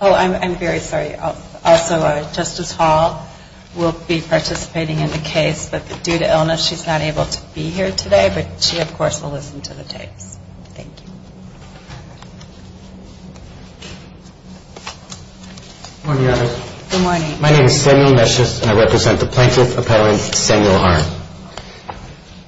Oh, I'm very sorry. Also, Justice Hall will be participating in the case, but due to illness, she's not able to be here today, but she, of course, will listen to the tapes. Thank you. Good morning, Your Honor. Good morning. My name is Samuel Meshus, and I represent the Plaintiff Appellant Samuel Arndt.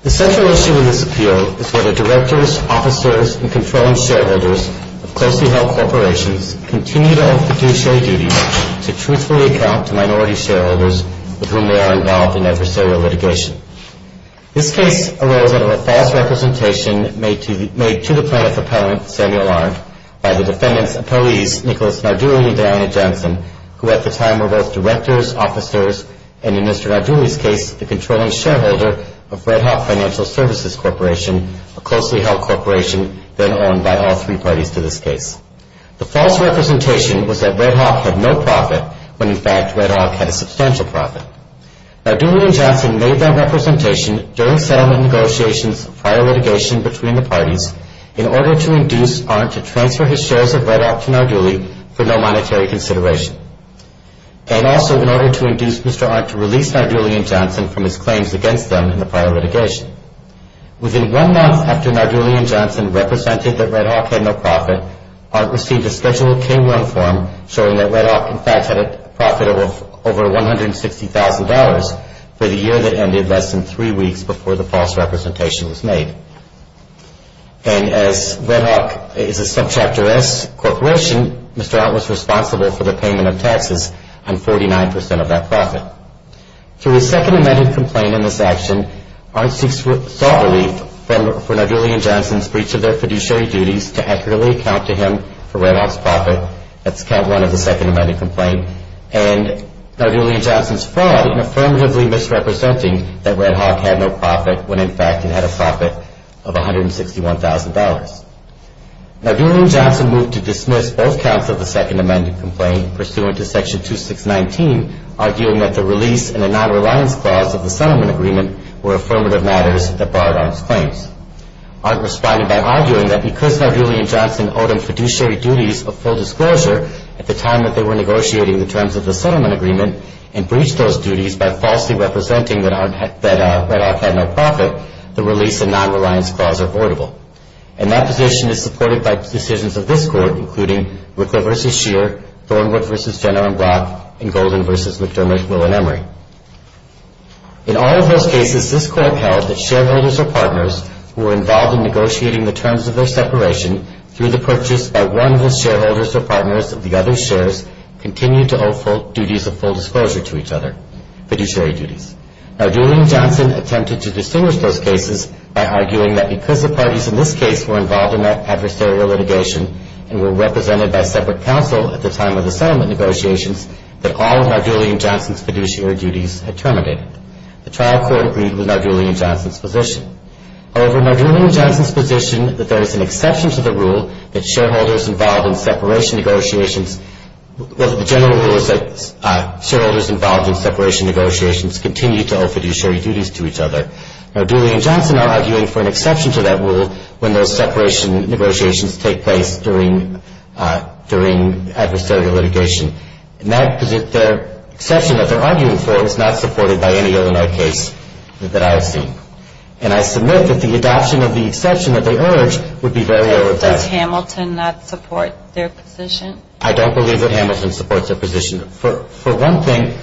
The central issue in this appeal is whether directors, officers, and controlling shareholders of closely held corporations continue to have fiduciary duties to truthfully account to minority shareholders with whom they are involved in adversarial litigation. This case arose out of a false representation made to the Plaintiff Appellant Samuel Arndt by the defendant's appellees, Nicholas Nardulli and Diana Johnson, who at the time were both directors, officers, and in Mr. Nardulli's case, the controlling shareholder of Red Hawk Financial Services Corporation, a closely held corporation then owned by all three parties to this case. The false representation was that Red Hawk had no profit when, in fact, Red Hawk had a substantial profit. Nardulli and Johnson made that representation during settlement negotiations prior litigation between the parties in order to induce Arndt to transfer his shares of Red Hawk to Nardulli for no monetary consideration, and also in order to induce Mr. Arndt to release Nardulli and Johnson from his claims against them in the prior litigation. Within one month after Nardulli and Johnson represented that Red Hawk had no profit, Arndt received a scheduled K-1 form showing that Red Hawk, in fact, had a profit of over $160,000 for the year that ended less than three weeks before the false representation was made. And as Red Hawk is a Subchapter S corporation, Mr. Arndt was responsible for the payment of taxes on 49 percent of that profit. Through his second amended complaint in this action, Arndt sought relief for Nardulli and Johnson's breach of their fiduciary duties to accurately account to him for Red Hawk's profit, that's count one of the second amended complaint, and Nardulli and Johnson's fraud in affirmatively misrepresenting that Red Hawk had no profit when, in fact, it had a profit of $161,000. Nardulli and Johnson moved to dismiss both counts of the second amended complaint pursuant to Section 2619, arguing that the release and a non-reliance clause of the settlement agreement were affirmative matters that barred Arndt's claims. Arndt responded by arguing that because Nardulli and Johnson owed him fiduciary duties of full disclosure at the time that they were negotiating the terms of the settlement agreement and breached those duties by falsely representing that Red Hawk had no profit, the release and non-reliance clause are voidable. And that position is supported by decisions of this Court, including Ricker v. Scheer, Thornwood v. Jenner and Block, and Golden v. McDermott, Mill and Emery. In all of those cases, this Court held that shareholders or partners who were involved in negotiating the terms of their separation through the purchase by one of the shareholders or partners of the other's shares continued to owe duties of full disclosure to each other, fiduciary duties. Nardulli and Johnson attempted to distinguish those cases by arguing that because the parties in this case were involved in adversarial litigation and were represented by separate counsel at the time of the settlement negotiations, that all of Nardulli and Johnson's fiduciary duties had terminated. The trial court agreed with Nardulli and Johnson's position. However, Nardulli and Johnson's position that there is an exception to the general rule that shareholders involved in separation negotiations continue to owe fiduciary duties to each other. Nardulli and Johnson are arguing for an exception to that rule when those separation negotiations take place during adversarial litigation. Their exception that they're arguing for is not supported by any other case that I have seen. And I submit that the adoption of the exception that they urge would be very overbearing. Does Hamilton not support their position? I don't believe that Hamilton supports their position. For one thing,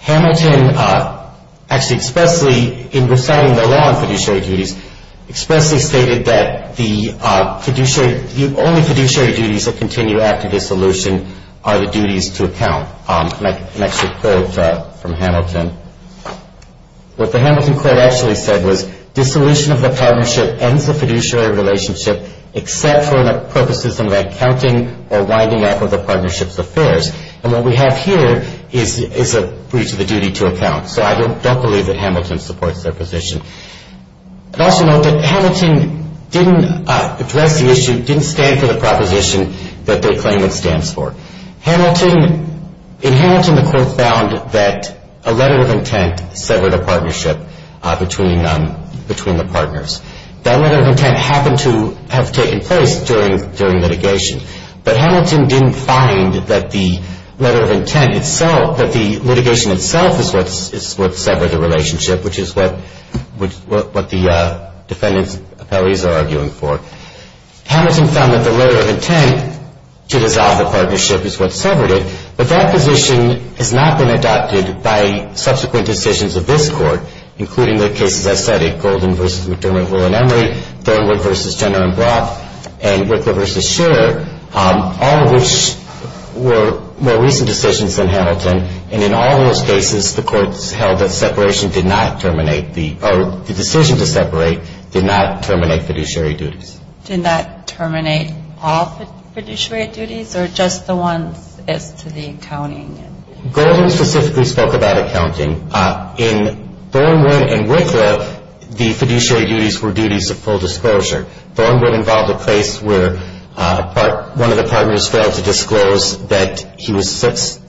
Hamilton actually expressly, in reciting the law on fiduciary duties, expressly stated that the only fiduciary duties that continue after dissolution are the duties to account. An extra quote from Hamilton. What the Hamilton quote actually said was, dissolution of the partnership ends the fiduciary relationship except for the purposes of accounting or winding up of the partnership's affairs. And what we have here is a breach of the duty to account. So I don't believe that Hamilton supports their position. I'd also note that Hamilton didn't address the issue, didn't stand for the proposition that they claim it stands for. In Hamilton, the court found that a letter of intent severed a partnership between the partners. That letter of intent happened to have taken place during litigation, but Hamilton didn't find that the letter of intent itself, that the litigation itself is what severed the relationship, which is what the defendant's appellees are arguing for. Hamilton found that the letter of intent to dissolve the partnership is what severed it, but that position has not been adopted by subsequent decisions of this Court, including the cases I cited, Golden v. McDermott, Will and Emery, Thornwood v. Jenner and Brock, and Wickler v. Scherer, all of which were more recent decisions than Hamilton. And in all those cases, the courts held that separation did not terminate the, or the decision to separate did not terminate fiduciary duties. Did not terminate all fiduciary duties or just the ones as to the accounting? Golden specifically spoke about accounting. In Thornwood and Wickler, the fiduciary duties were duties of full disclosure. Thornwood involved a case where one of the partners failed to disclose that he was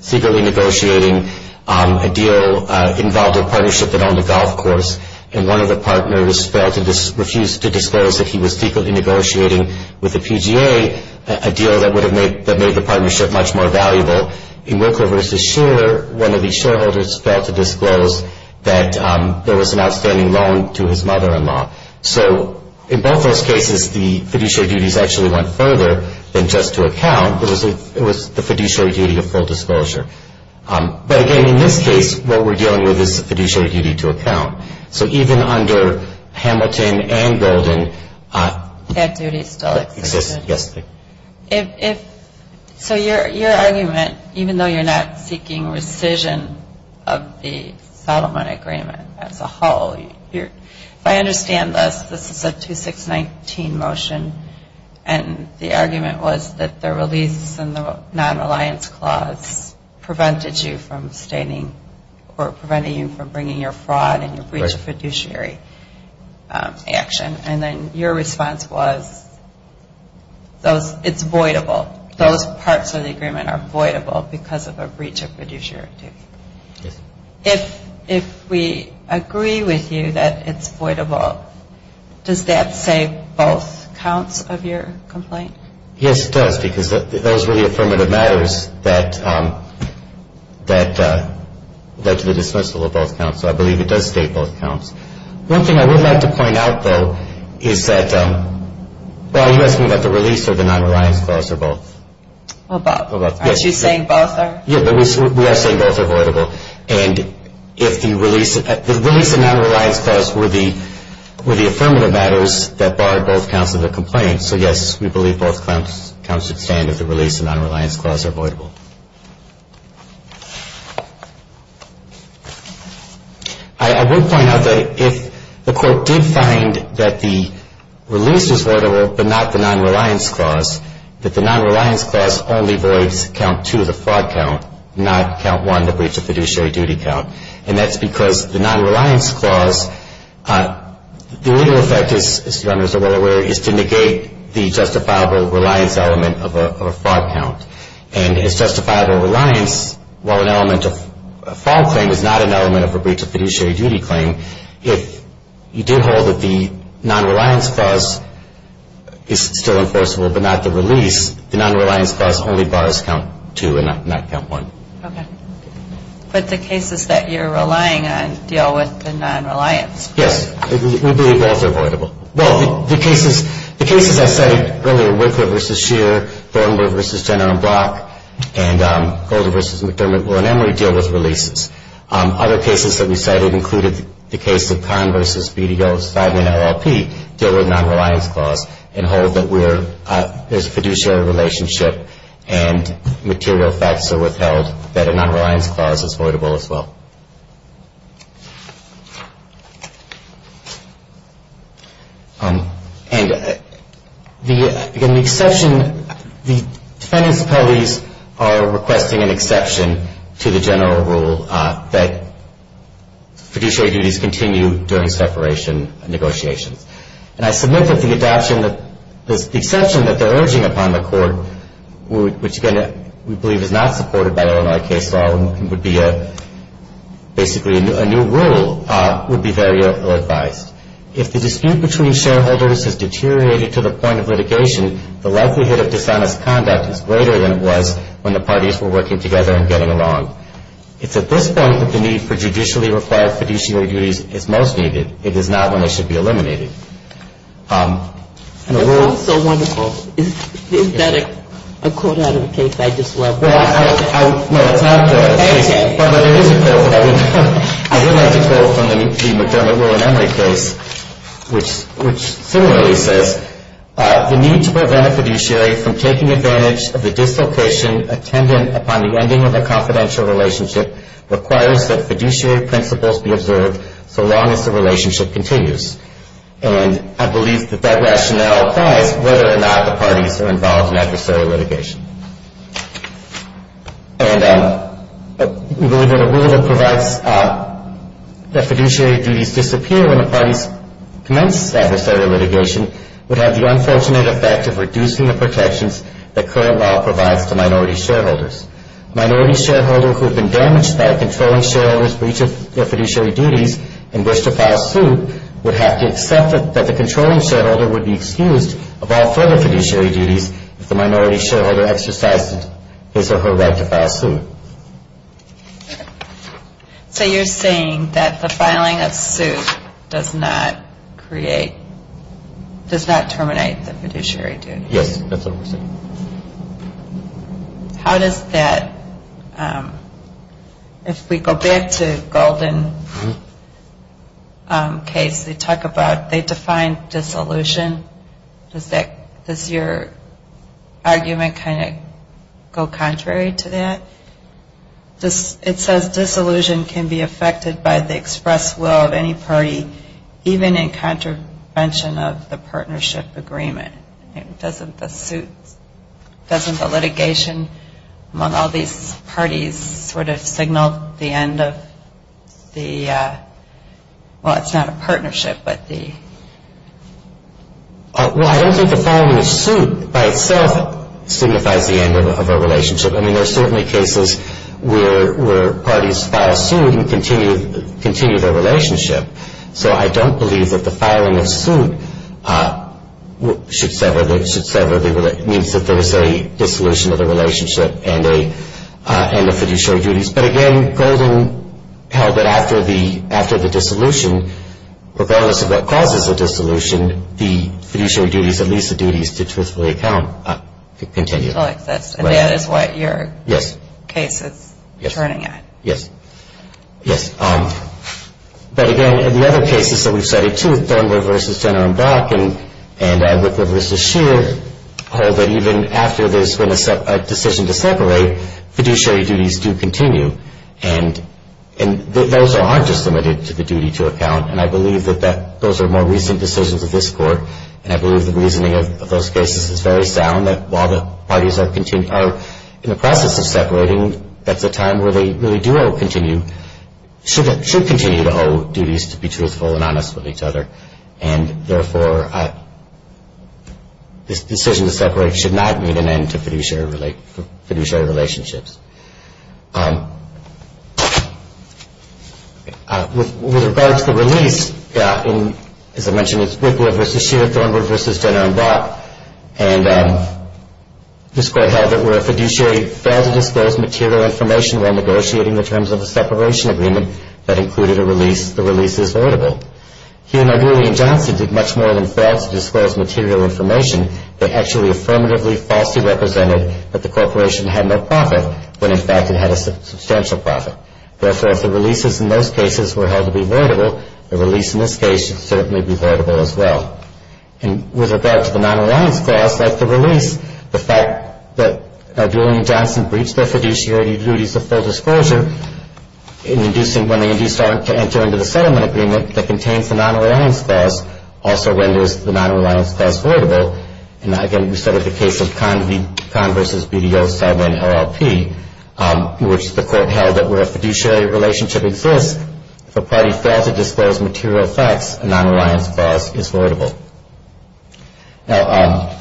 secretly negotiating a deal involving a partnership that owned a golf course, and one of the partners refused to disclose that he was secretly negotiating with the PGA, a deal that would have made the partnership much more valuable. In Wickler v. Scherer, one of the shareholders failed to disclose that there was an outstanding loan to his mother-in-law. So in both those cases, the fiduciary duties actually went further than just to account. It was the fiduciary duty of full disclosure. But again, in this case, what we're dealing with is the fiduciary duty to account. So even under Hamilton and Golden, that duty still existed. So your argument, even though you're not seeking rescission of the settlement agreement as a whole, if I understand this, this is a 2619 motion, and the argument was that the release and the non-reliance clause prevented you from staining or preventing you from bringing your fraud and your breach of fiduciary action. And then your response was it's voidable. Those parts of the agreement are voidable because of a breach of fiduciary duty. If we agree with you that it's voidable, does that say both counts of your complaint? Yes, it does, because those were the affirmative matters that led to the dismissal of both counts. So I believe it does state both counts. One thing I would like to point out, though, is that, well, you asked me about the release or the non-reliance clause or both. Well, both. Aren't you saying both are? Yes, we are saying both are voidable. And the release and non-reliance clause were the affirmative matters that barred both counts of the complaint. So, yes, we believe both counts should stand if the release and non-reliance clause are voidable. I would point out that if the court did find that the release is voidable but not the non-reliance clause, that the non-reliance clause only voids Count 2, the fraud count, not Count 1, the breach of fiduciary duty count. And that's because the non-reliance clause, the real effect, as you are well aware, is to negate the justifiable reliance element of a fraud count. And it's justifiable reliance, while an element of a fraud claim is not an element of a breach of fiduciary duty claim, if you do hold that the non-reliance clause is still enforceable but not the release, the non-reliance clause only bars Count 2 and not Count 1. Okay. But the cases that you're relying on deal with the non-reliance. Yes. We believe both are voidable. Well, the cases I cited earlier, Wickler v. Scheer, Thornburg v. Jenner and Block, and Golder v. McDermott, Will and Emery, deal with releases. Other cases that we cited included the case of Conn v. BDO's 5N LLP, deal with non-reliance clause and hold that there's a fiduciary relationship and material facts are withheld, that a non-reliance clause is voidable as well. And, again, the exception, the defendants' appellees are requesting an exception to the general rule that fiduciary duties continue during separation negotiations. And I submit that the exception that they're urging upon the court, which, again, we believe is not supported by Illinois case law and would be basically a new rule, would be very ill-advised. If the dispute between shareholders has deteriorated to the point of litigation, the likelihood of dishonest conduct is greater than it was when the parties were working together and getting along. It's at this point that the need for judicially required fiduciary duties is most needed. It is not when they should be eliminated. That sounds so wonderful. Is that a quote out of a case I just love? Well, I would like to quote from the McDermott, Will and Emory case, which similarly says, the need to prevent a fiduciary from taking advantage of the dislocation attendant upon the ending of a confidential relationship requires that fiduciary principles be observed so long as the relationship continues. And I believe that that rationale applies whether or not the parties are involved in adversary litigation. And we believe that a rule that provides that fiduciary duties disappear when the parties commence adversary litigation would have the unfortunate effect of reducing the protections that current law provides to minority shareholders. Minority shareholders who have been damaged by a controlling shareholder's breach of their fiduciary duties and wish to file suit would have to accept that the controlling shareholder would be excused of all further fiduciary duties if the minority shareholder exercised his or her right to file suit. So you're saying that the filing of suit does not create, does not terminate the fiduciary duties? Yes, that's what we're saying. How does that, if we go back to Golden case, they talk about, they define dissolution. Does that, does your argument kind of go contrary to that? It says dissolution can be affected by the express will of any party even in contravention of the partnership agreement. Doesn't the suit, doesn't the litigation among all these parties sort of signal the end of the, well, it's not a partnership, but the? Well, I don't think the filing of suit by itself signifies the end of a relationship. I mean, there are certainly cases where parties file suit and continue their relationship. So I don't believe that the filing of suit should sever the relationship. It means that there is a dissolution of the relationship and the fiduciary duties. But again, Golden held that after the dissolution, regardless of what causes the dissolution, the fiduciary duties, at least the duties to truthfully account, continue. And that is what your case is turning at. Yes, yes. But again, in the other cases that we've studied, too, Thornberry v. Jenner and Block and Whitworth v. Scheer, hold that even after there's been a decision to separate, fiduciary duties do continue. And those aren't just limited to the duty to account. And I believe that those are more recent decisions of this Court. And I believe the reasoning of those cases is very sound, that while the parties are in the process of separating, that's a time where they really do owe, continue, should continue to owe duties to be truthful and honest with each other. And therefore, this decision to separate should not mean an end to fiduciary relationships. With regard to the release, as I mentioned, it's Whitworth v. Scheer, Thornberry v. Jenner and Block. And this Court held that where a fiduciary failed to disclose material information while negotiating the terms of a separation agreement, that included a release, the release is voidable. He and O'Grady and Johnson did much more than fail to disclose material information. They actually affirmatively falsely represented that the corporation had no profit when, in fact, it had a substantial profit. Therefore, if the releases in those cases were held to be voidable, the release in this case should certainly be voidable as well. And with regard to the non-reliance clause, like the release, the fact that Julian and Johnson breached their fiduciary duties of full disclosure in inducing when they are to enter into the settlement agreement that contains the non-reliance clause also renders the non-reliance clause voidable. And again, we started the case of Conn v. BDO-7-LLP, which the Court held that where a fiduciary relationship exists, if a party fails to disclose material facts, a non-reliance clause is voidable. Now,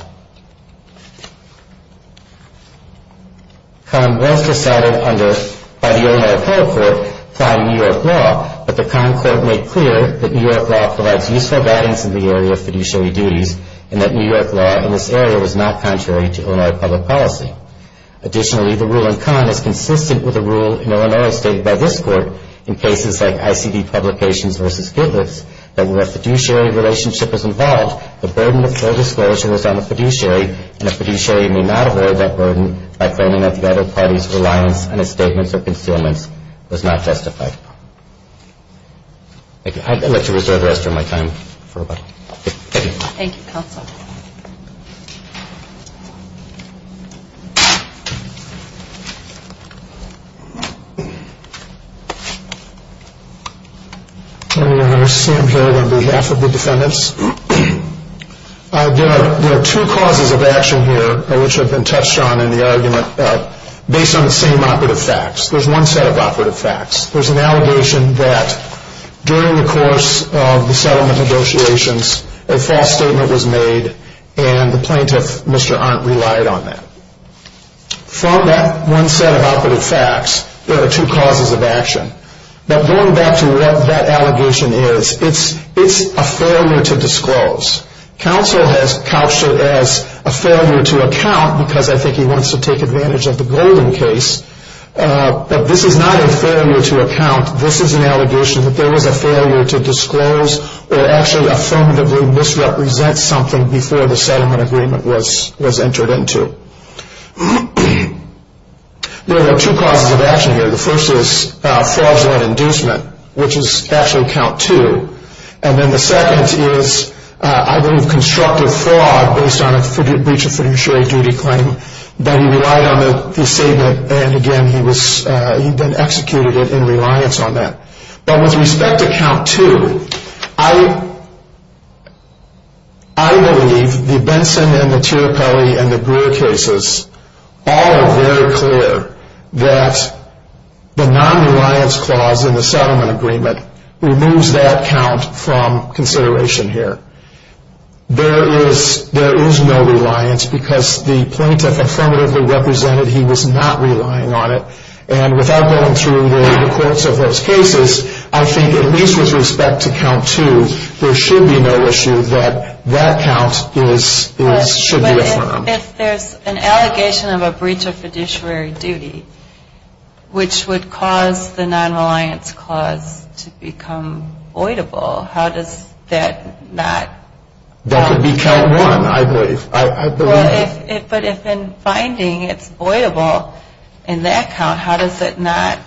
Conn was decided by the Illinois Appellate Court prior to New York law, but the Conn Court made clear that New York law provides useful guidance in the area of fiduciary duties and that New York law in this area was not contrary to Illinois public policy. Additionally, the rule in Conn is consistent with the rule in Illinois stated by this Court in cases like ICD Publications v. Gitlitz, that where a fiduciary relationship is involved, the burden of full disclosure is on the fiduciary, and a fiduciary may not avoid that burden by claiming that the other party's reliance on its statements or concealments was not justified. Thank you. I'd like to reserve the rest of my time for rebuttal. Thank you. Thank you. Thank you, Counsel. Senator Sam Hill on behalf of the defendants. There are two causes of action here, which have been touched on in the argument, based on the same operative facts. There's one set of operative facts. There's an allegation that during the course of the settlement negotiations, a false statement was made and the plaintiff, Mr. Arndt, relied on that. From that one set of operative facts, there are two causes of action. But going back to what that allegation is, it's a failure to disclose. Counsel has couched it as a failure to account because I think he wants to take advantage of the Golden case, but this is not a failure to account. This is an allegation that there was a failure to disclose or actually affirmatively misrepresent something before the settlement agreement was entered into. There are two causes of action here. The first is fraudulent inducement, which is actually count two. And then the second is, I believe, constructive fraud based on a breach of fiduciary duty claim that he relied on the statement and, again, he then executed it in reliance on that. But with respect to count two, I believe the Benson and the Tirapelli and the Brewer cases all are very clear that the non-reliance clause in the settlement agreement removes that count from consideration here. There is no reliance because the plaintiff affirmatively represented he was not relying on it. And without going through the courts of those cases, I think at least with respect to count two, there should be no issue that that count should be affirmed. But if there's an allegation of a breach of fiduciary duty, which would cause the non-reliance clause to become voidable, how does that not work? That would be count one, I believe. But if in finding it's voidable in that count, how does it not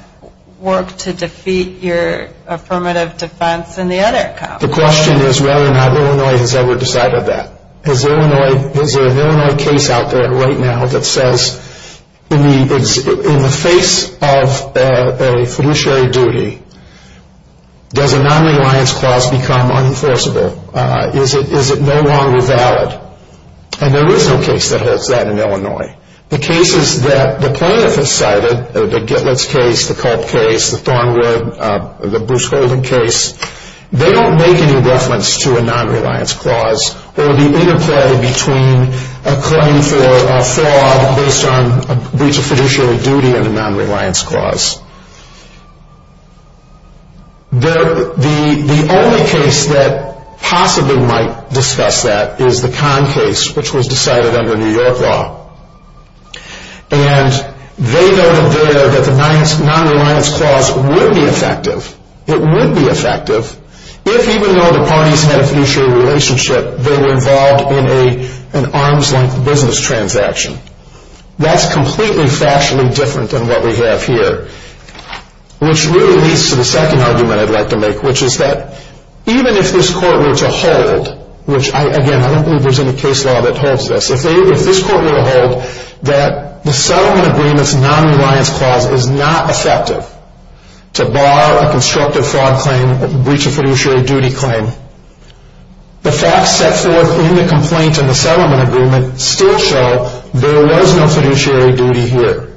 work to defeat your affirmative defense in the other count? The question is whether or not Illinois has ever decided that. Is there an Illinois case out there right now that says in the face of a fiduciary duty, does a non-reliance clause become unenforceable? Is it no longer valid? And there is no case that holds that in Illinois. The cases that the plaintiff has cited, the Gitlitz case, the Culp case, the Thornwood, the Bruce Holden case, they don't make any reference to a non-reliance clause or the interplay between a claim for a fraud based on a breach of fiduciary duty and a non-reliance clause. The only case that possibly might discuss that is the Kahn case, which was decided under New York law. And they noted there that the non-reliance clause would be effective. It would be effective. If even though the parties had a fiduciary relationship, they were involved in an arms-length business transaction. That's completely factually different than what we have here. Which really leads to the second argument I'd like to make, which is that even if this court were to hold, which again, I don't believe there's any case law that holds this, if this court were to hold that the settlement agreement's non-reliance clause is not effective to bar a constructive fraud claim, a breach of fiduciary duty claim, the facts set forth in the complaint and the settlement agreement still show there was no fiduciary duty here.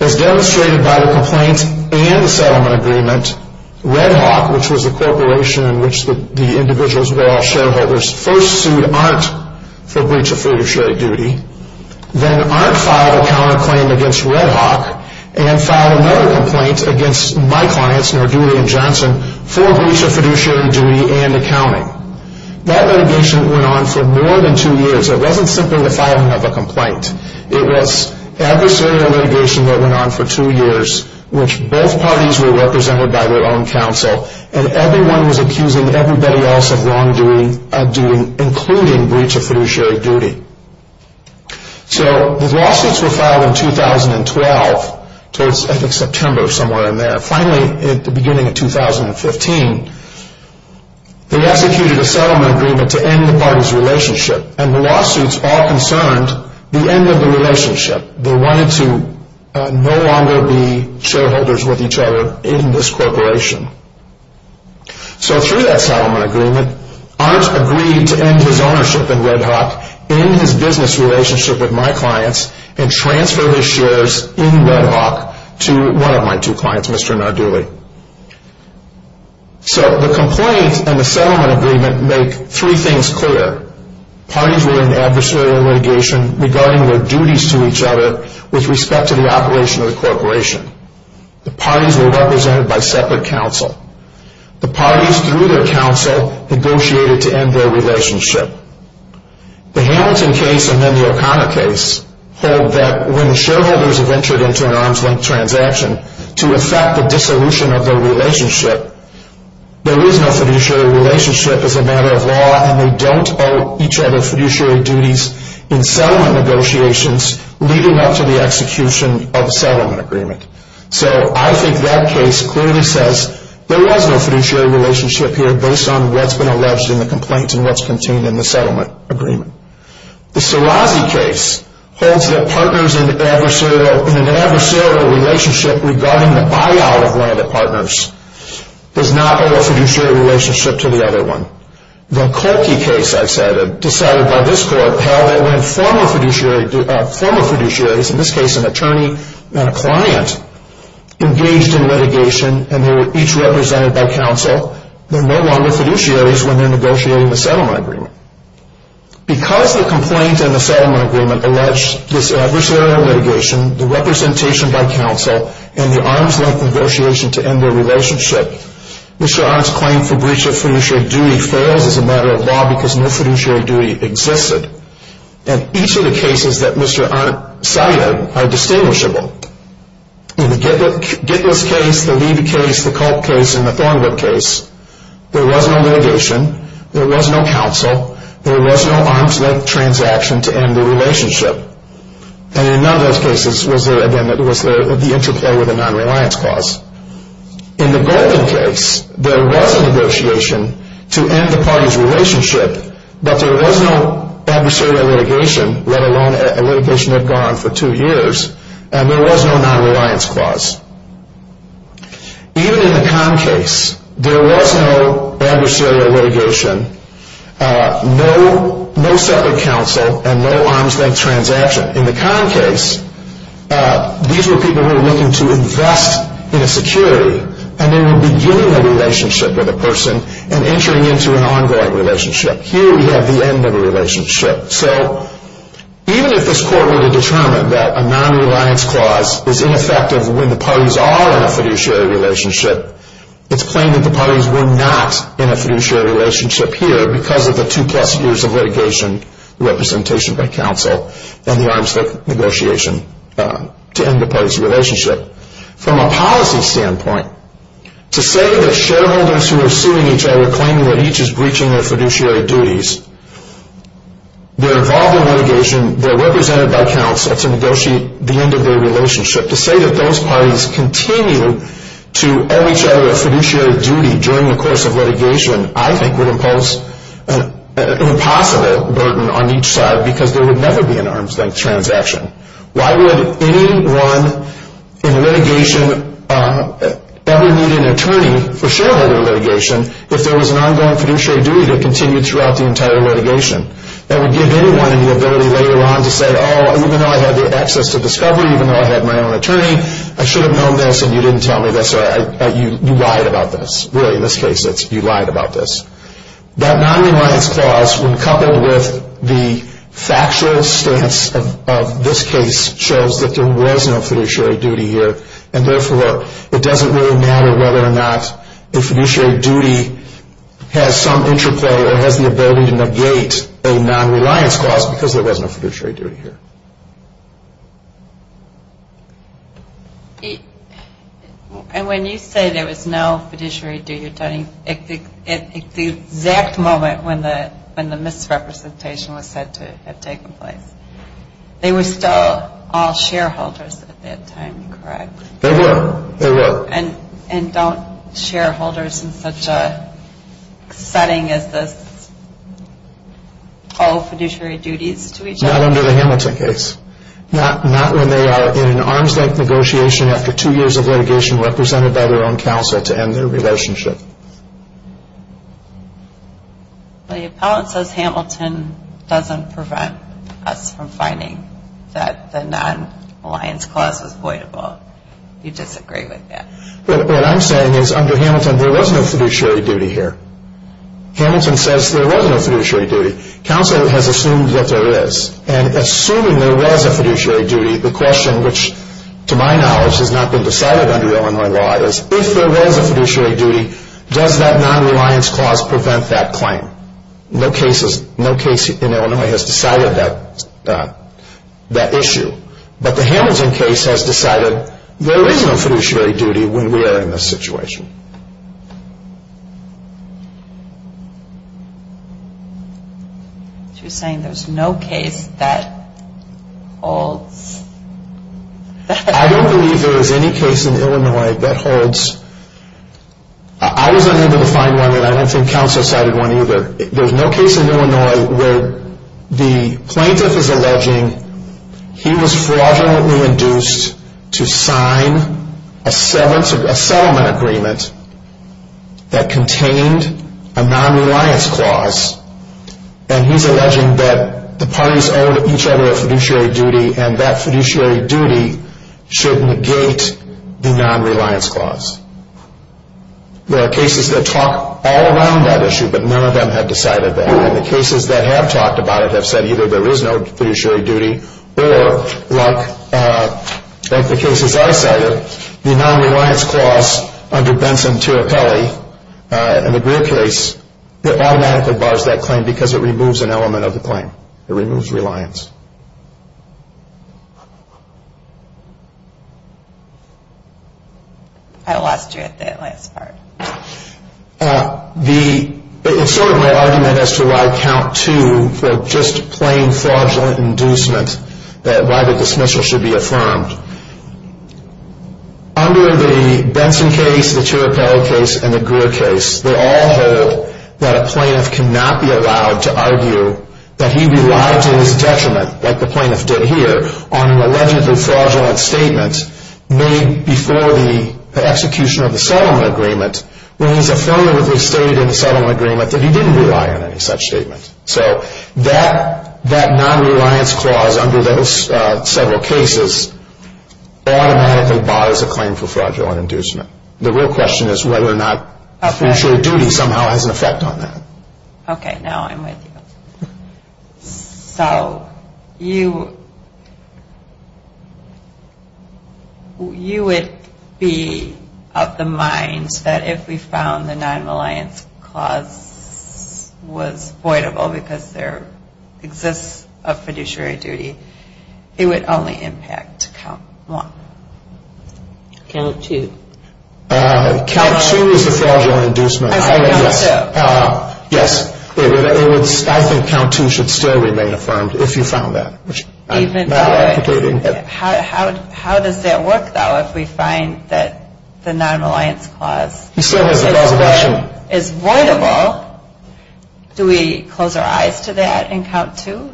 As demonstrated by the complaint and the settlement agreement, Red Hawk, which was the corporation in which the individuals were all shareholders, first sued Arndt for breach of fiduciary duty. Then Arndt filed a counterclaim against Red Hawk and filed another complaint against my clients, Nordudi and Johnson, for breach of fiduciary duty and accounting. That litigation went on for more than two years. It wasn't simply the filing of a complaint. It was adversarial litigation that went on for two years, which both parties were represented by their own counsel, and everyone was accusing everybody else of wrongdoing, including breach of fiduciary duty. The lawsuits were filed in 2012, towards, I think, September, somewhere in there. Finally, at the beginning of 2015, they executed a settlement agreement to end the parties' relationship, and the lawsuits all concerned the end of the relationship. They wanted to no longer be shareholders with each other in this corporation. Through that settlement agreement, Arndt agreed to end his ownership in Red Hawk, end his business relationship with my clients, and transfer his shares in Red Hawk to one of my two clients, Mr. Nordudi. The complaint and the settlement agreement make three things clear. Parties were in adversarial litigation regarding their duties to each other with respect to the operation of the corporation. The parties were represented by separate counsel. The parties, through their counsel, negotiated to end their relationship. The Hamilton case, and then the O'Connor case, hold that when the shareholders have entered into an arm's-length transaction to effect the dissolution of their relationship, there is no fiduciary relationship as a matter of law, and they don't owe each other fiduciary duties in settlement negotiations leading up to the execution of the settlement agreement. So I think that case clearly says there was no fiduciary relationship here based on what's been alleged in the complaint and what's contained in the settlement agreement. The Sirazi case holds that partners in an adversarial relationship regarding the buyout of one of their partners does not owe a fiduciary relationship to the other one. The Kolke case, I said, decided by this court, held that when former fiduciaries, in this case an attorney and a client, engaged in litigation and they were each represented by counsel, they're no longer fiduciaries when they're negotiating the settlement agreement. Because the complaint and the settlement agreement alleged this adversarial litigation, the representation by counsel, and the arm's-length negotiation to end their relationship, Mr. Arndt's claim for breach of fiduciary duty fails as a matter of law because no fiduciary duty existed. And each of the cases that Mr. Arndt cited are distinguishable. In the Gitlis case, the Levy case, the Kolke case, and the Thornwood case, there was no litigation, there was no counsel, there was no arm's-length transaction to end the relationship. And in none of those cases was there, again, the interplay with a non-reliance clause. In the Golden case, there was a negotiation to end the party's relationship, but there was no adversarial litigation, let alone a litigation that had gone on for two years, and there was no non-reliance clause. Even in the Kahn case, there was no adversarial litigation, no separate counsel, and no arm's-length transaction. In the Kahn case, these were people who were looking to invest in a security, and they were beginning a relationship with a person and entering into an ongoing relationship. Here we have the end of a relationship. So even if this Court were to determine that a non-reliance clause is ineffective when the parties are in a fiduciary relationship, it's plain that the parties were not in a fiduciary relationship here because of the two-plus years of litigation, representation by counsel, and the arm's-length negotiation to end the party's relationship. From a policy standpoint, to say that shareholders who are suing each other, claiming that each is breaching their fiduciary duties, they're involved in litigation, they're represented by counsel to negotiate the end of their relationship. To say that those parties continue to owe each other a fiduciary duty during the course of litigation, I think would impose an impossible burden on each side because there would never be an arm's-length transaction. Why would anyone in litigation ever need an attorney for shareholder litigation if there was an ongoing fiduciary duty that continued throughout the entire litigation? That would give anyone the ability later on to say, oh, even though I had the access to discovery, even though I had my own attorney, I should have known this and you didn't tell me this, or you lied about this. Really, in this case, you lied about this. That non-reliance clause, when coupled with the factual stance of this case, shows that there was no fiduciary duty here, and therefore it doesn't really matter whether or not the fiduciary duty has some interplay or has the ability to negate a non-reliance clause because there was no fiduciary duty here. And when you say there was no fiduciary duty, you're talking at the exact moment when the misrepresentation was said to have taken place. They were still all shareholders at that time, correct? They were. They were. And don't shareholders in such a setting as this owe fiduciary duties to each other? Not under the Hamilton case. Not when they are in an arms-length negotiation after two years of litigation represented by their own counsel to end their relationship. The appellant says Hamilton doesn't prevent us from finding that the non-reliance clause is voidable. You disagree with that. What I'm saying is under Hamilton, there was no fiduciary duty here. Hamilton says there was no fiduciary duty. Counsel has assumed that there is. And assuming there was a fiduciary duty, the question, which to my knowledge has not been decided under Illinois law, is if there was a fiduciary duty, does that non-reliance clause prevent that claim? No case in Illinois has decided that issue. But the Hamilton case has decided there is no fiduciary duty when we are in this situation. Thank you. She was saying there's no case that holds. I don't believe there is any case in Illinois that holds. I was unable to find one, and I don't think counsel cited one either. There's no case in Illinois where the plaintiff is alleging he was fraudulently induced to sign a settlement agreement that contained a non-reliance clause, and he's alleging that the parties owe each other a fiduciary duty, and that fiduciary duty should negate the non-reliance clause. There are cases that talk all around that issue, but none of them have decided that. And the cases that have talked about it have said either there is no fiduciary duty or, like the cases I cited, the non-reliance clause under Benson-Tirapelli in the Greer case, it automatically bars that claim because it removes an element of the claim. It removes reliance. I lost you at that last part. It's sort of my argument as to why count two for just plain fraudulent inducement, why the dismissal should be affirmed. Under the Benson case, the Tirapelli case, and the Greer case, they all hold that a plaintiff cannot be allowed to argue that he relied to his detriment, like the plaintiff did here, on an allegedly fraudulent statement made before the execution of the settlement agreement when he's affirmatively stated in the settlement agreement that he didn't rely on any such statement. So that non-reliance clause under those several cases automatically bars a claim for fraudulent inducement. The real question is whether or not fiduciary duty somehow has an effect on that. Okay, now I'm with you. So you would be of the mind that if we found the non-reliance clause was voidable because there exists a fiduciary duty, it would only impact count one? Count two. Count two is the fraudulent inducement. Yes, I think count two should still remain affirmed if you found that. How does that work, though, if we find that the non-reliance clause is voidable? Do we close our eyes to that in count two?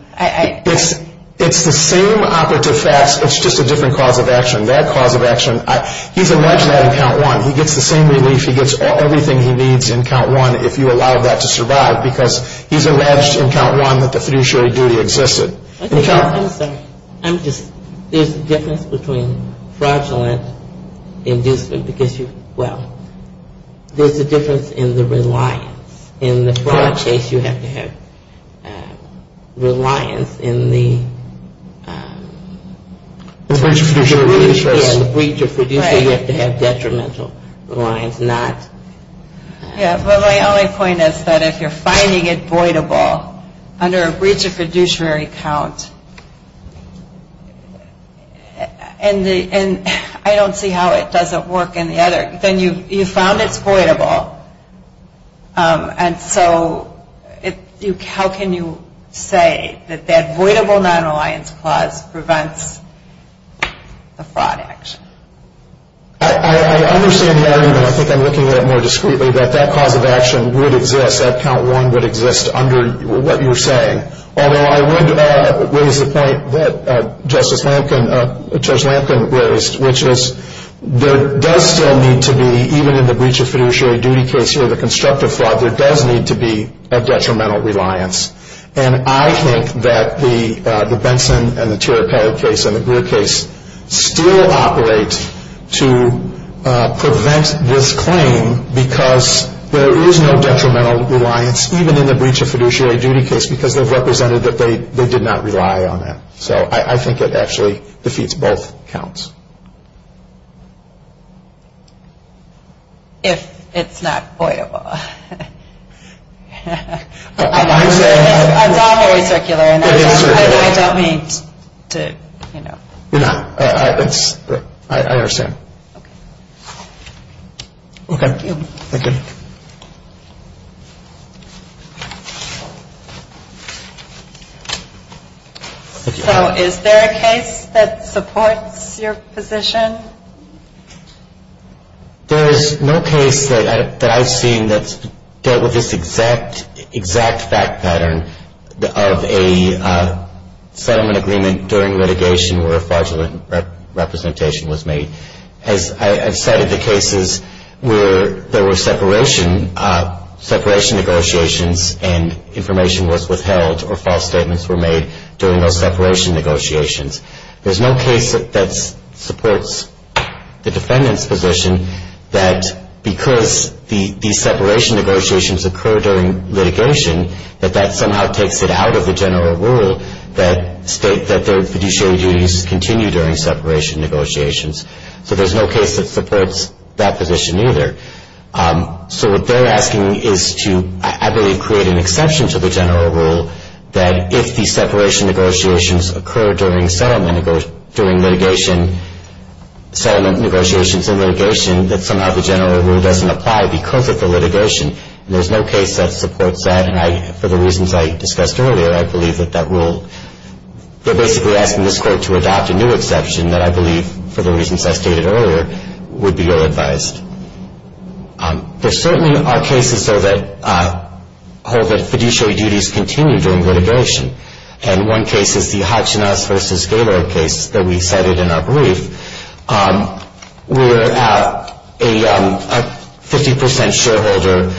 It's the same operative facts, it's just a different cause of action. That cause of action, he's alleged that in count one. He gets the same relief. He gets everything he needs in count one if you allow that to survive because he's alleged in count one that the fiduciary duty existed. I'm sorry. I'm just, there's a difference between fraudulent inducement because you, well, there's a difference in the reliance. In the fraud case, you have to have reliance in the breach of fiduciary release. Yeah, in the breach of fiduciary, you have to have detrimental reliance, not. Yeah, but my only point is that if you're finding it voidable under a breach of fiduciary count, and I don't see how it doesn't work in the other, then you found it's voidable, and so how can you say that that voidable non-reliance clause prevents the fraud action? I understand the argument, I think I'm looking at it more discreetly, that that cause of action would exist, that count one would exist under what you're saying. Although I would raise the point that Justice Lampkin, Judge Lampkin raised, which is there does still need to be, even in the breach of fiduciary duty case here, the constructive fraud, there does need to be a detrimental reliance. And I think that the Benson and the Tiripati case and the Greer case still operate to prevent this claim because there is no detrimental reliance, even in the breach of fiduciary duty case, because they've represented that they did not rely on that. So I think it actually defeats both counts. If it's not voidable. I'm not very circular, and I don't mean to, you know. No, I understand. Okay. Thank you. So is there a case that supports your position? There is no case that I've seen that's dealt with this exact fact pattern of a settlement agreement where fraudulent representation was made. As I've cited the cases where there were separation negotiations and information was withheld or false statements were made during those separation negotiations. There's no case that supports the defendant's position that because these separation negotiations occur during litigation, that that somehow takes it out of the general rule that state that their fiduciary duties continue during separation negotiations. So there's no case that supports that position either. So what they're asking is to, I believe, create an exception to the general rule that if the separation negotiations occur during settlement negotiations and litigation, that somehow the general rule doesn't apply because of the litigation. And there's no case that supports that. And for the reasons I discussed earlier, I believe that that rule, they're basically asking this court to adopt a new exception that I believe, for the reasons I stated earlier, would be ill-advised. There certainly are cases, though, that hold that fiduciary duties continue during litigation. And one case is the Hatchinas v. Gaylord case that we cited in our brief, where a 50 percent shareholder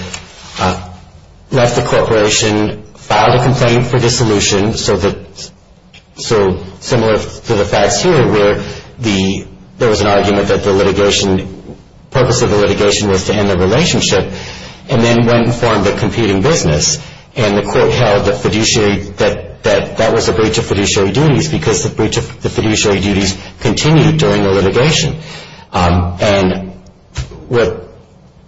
left the corporation, filed a complaint for dissolution, so similar to the facts here where there was an argument that the litigation, the purpose of the litigation was to end the relationship, and then went and formed a competing business. And the court held that that was a breach of fiduciary duties because the fiduciary duties continued during the litigation. And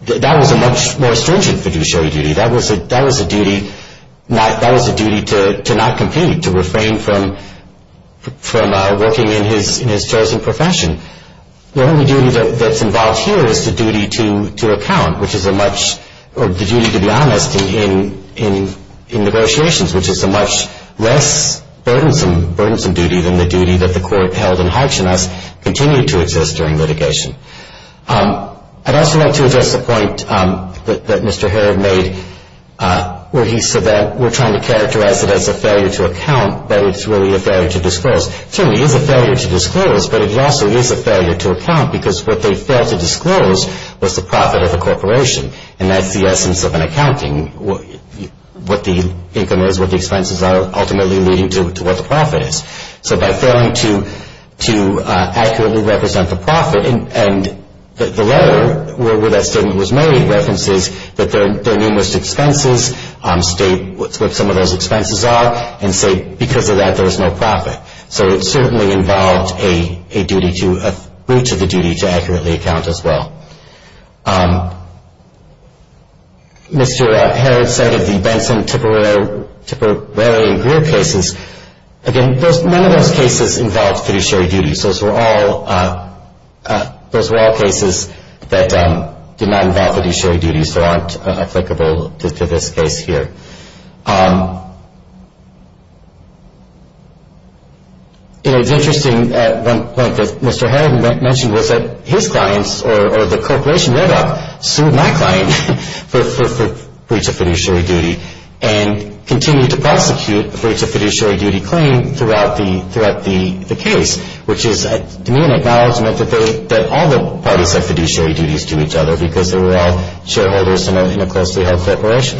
that was a much more stringent fiduciary duty. That was a duty to not compete, to refrain from working in his chosen profession. The only duty that's involved here is the duty to account, which is a much, or the duty, to be honest, in negotiations, which is a much less burdensome duty than the duty that the court held in Hatchinas continued to exist during litigation. I'd also like to address the point that Mr. Herod made, where he said that we're trying to characterize it as a failure to account, but it's really a failure to disclose. It certainly is a failure to disclose, but it also is a failure to account, because what they failed to disclose was the profit of the corporation, and that's the essence of an accounting, what the income is, what the expenses are, ultimately leading to what the profit is. So by failing to accurately represent the profit, and the letter where that statement was made references that there are numerous expenses, state what some of those expenses are, and say because of that there was no profit. So it certainly involved a duty to, a breach of the duty to accurately account as well. Mr. Herod said of the Benson, Tipperary, and Greer cases, again, none of those cases involved fiduciary duties. Those were all cases that did not involve fiduciary duties, and these still aren't applicable to this case here. It was interesting at one point that Mr. Herod mentioned was that his clients, or the corporation read up, sued my client for breach of fiduciary duty, and continued to prosecute a breach of fiduciary duty claim throughout the case, which is, to me, an acknowledgment that all the parties had fiduciary duties to each other, because they were all shareholders in a closely held corporation.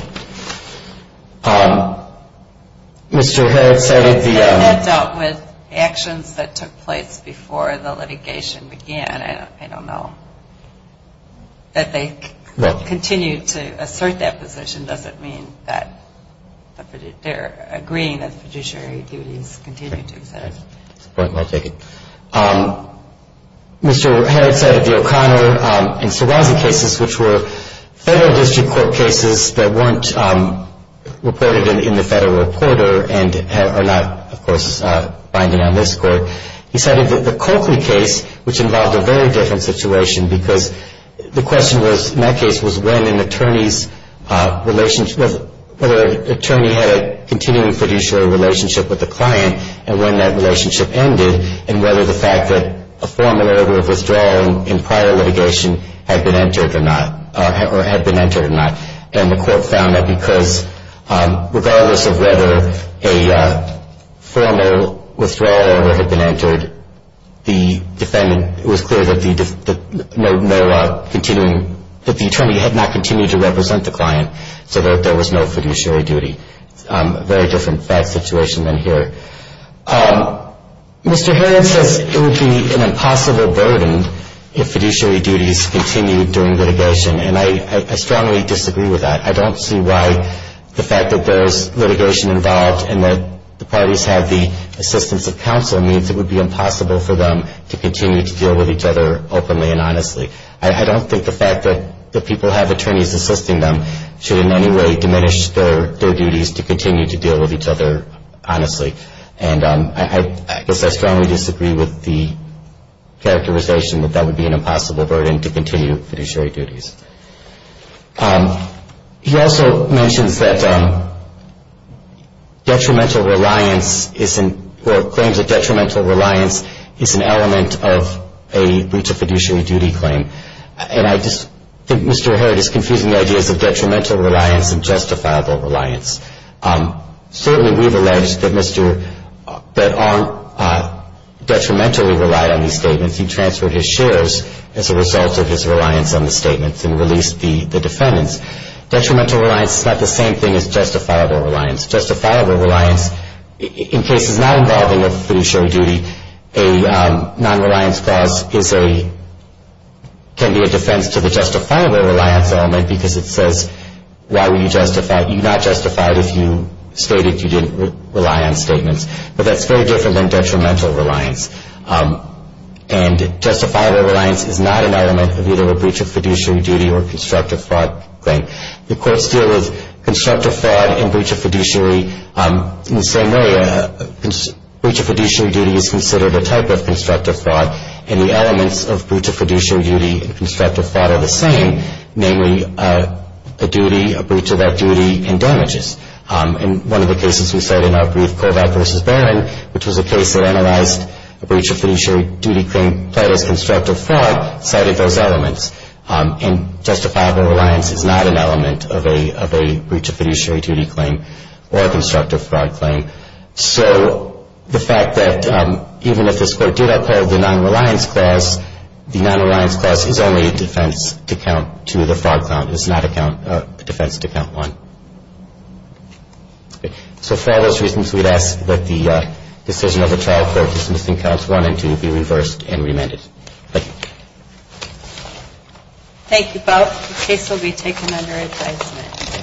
Mr. Herod said of the- That dealt with actions that took place before the litigation began. I don't know that they continue to assert that position. Does it mean that they're agreeing that fiduciary duties continue to exist? That's a point well taken. Mr. Herod said of the O'Connor and Surazi cases, which were Federal District Court cases that weren't reported in the Federal Reporter and are not, of course, binding on this Court, he said of the Coakley case, which involved a very different situation, because the question was, in that case, was when an attorney's relationship- whether an attorney had a continuing fiduciary relationship with the client and when that relationship ended, and whether the fact that a formal order of withdrawal in prior litigation had been entered or not, and the Court found that because, regardless of whether a formal withdrawal order had been entered, the defendant-it was clear that the attorney had not continued to represent the client, so that there was no fiduciary duty. Very different fact situation than here. Mr. Herod says it would be an impossible burden if fiduciary duties continued during litigation, and I strongly disagree with that. I don't see why the fact that there's litigation involved and that the parties have the assistance of counsel means it would be impossible for them to continue to deal with each other openly and honestly. I don't think the fact that people have attorneys assisting them should in any way diminish their duties to continue to deal with each other honestly. And I guess I strongly disagree with the characterization that that would be an impossible burden to continue fiduciary duties. He also mentions that detrimental reliance is- or claims of detrimental reliance is an element of a breach of fiduciary duty claim. And I just think Mr. Herod is confusing the ideas of detrimental reliance and justifiable reliance. Certainly, we've alleged that Mr. Bedarn detrimentally relied on these statements. He transferred his shares as a result of his reliance on the statements and released the defendants. Detrimental reliance is not the same thing as justifiable reliance. Justifiable reliance, in cases not involving a fiduciary duty, a non-reliance clause can be a defense to the justifiable reliance element because it says why were you not justified if you stated you didn't rely on statements. But that's very different than detrimental reliance. And justifiable reliance is not an element of either a breach of fiduciary duty or constructive fraud claim. The courts deal with constructive fraud and breach of fiduciary in the same way. Breach of fiduciary duty is considered a type of constructive fraud and the elements of breach of fiduciary duty and constructive fraud are the same, namely a duty, a breach of that duty, and damages. In one of the cases we cited in our brief, Kovach v. Bedarn, which was a case that analyzed a breach of fiduciary duty claim played as constructive fraud, cited those elements. And justifiable reliance is not an element of a breach of fiduciary duty claim or a constructive fraud claim. So the fact that even if this Court did uphold the non-reliance clause, the non-reliance clause is only a defense to count to the fraud count. It's not a defense to count one. So for all those reasons, we'd ask that the decision of the trial court be reversed and remanded. Thank you. Thank you both. The case will be taken under advisement.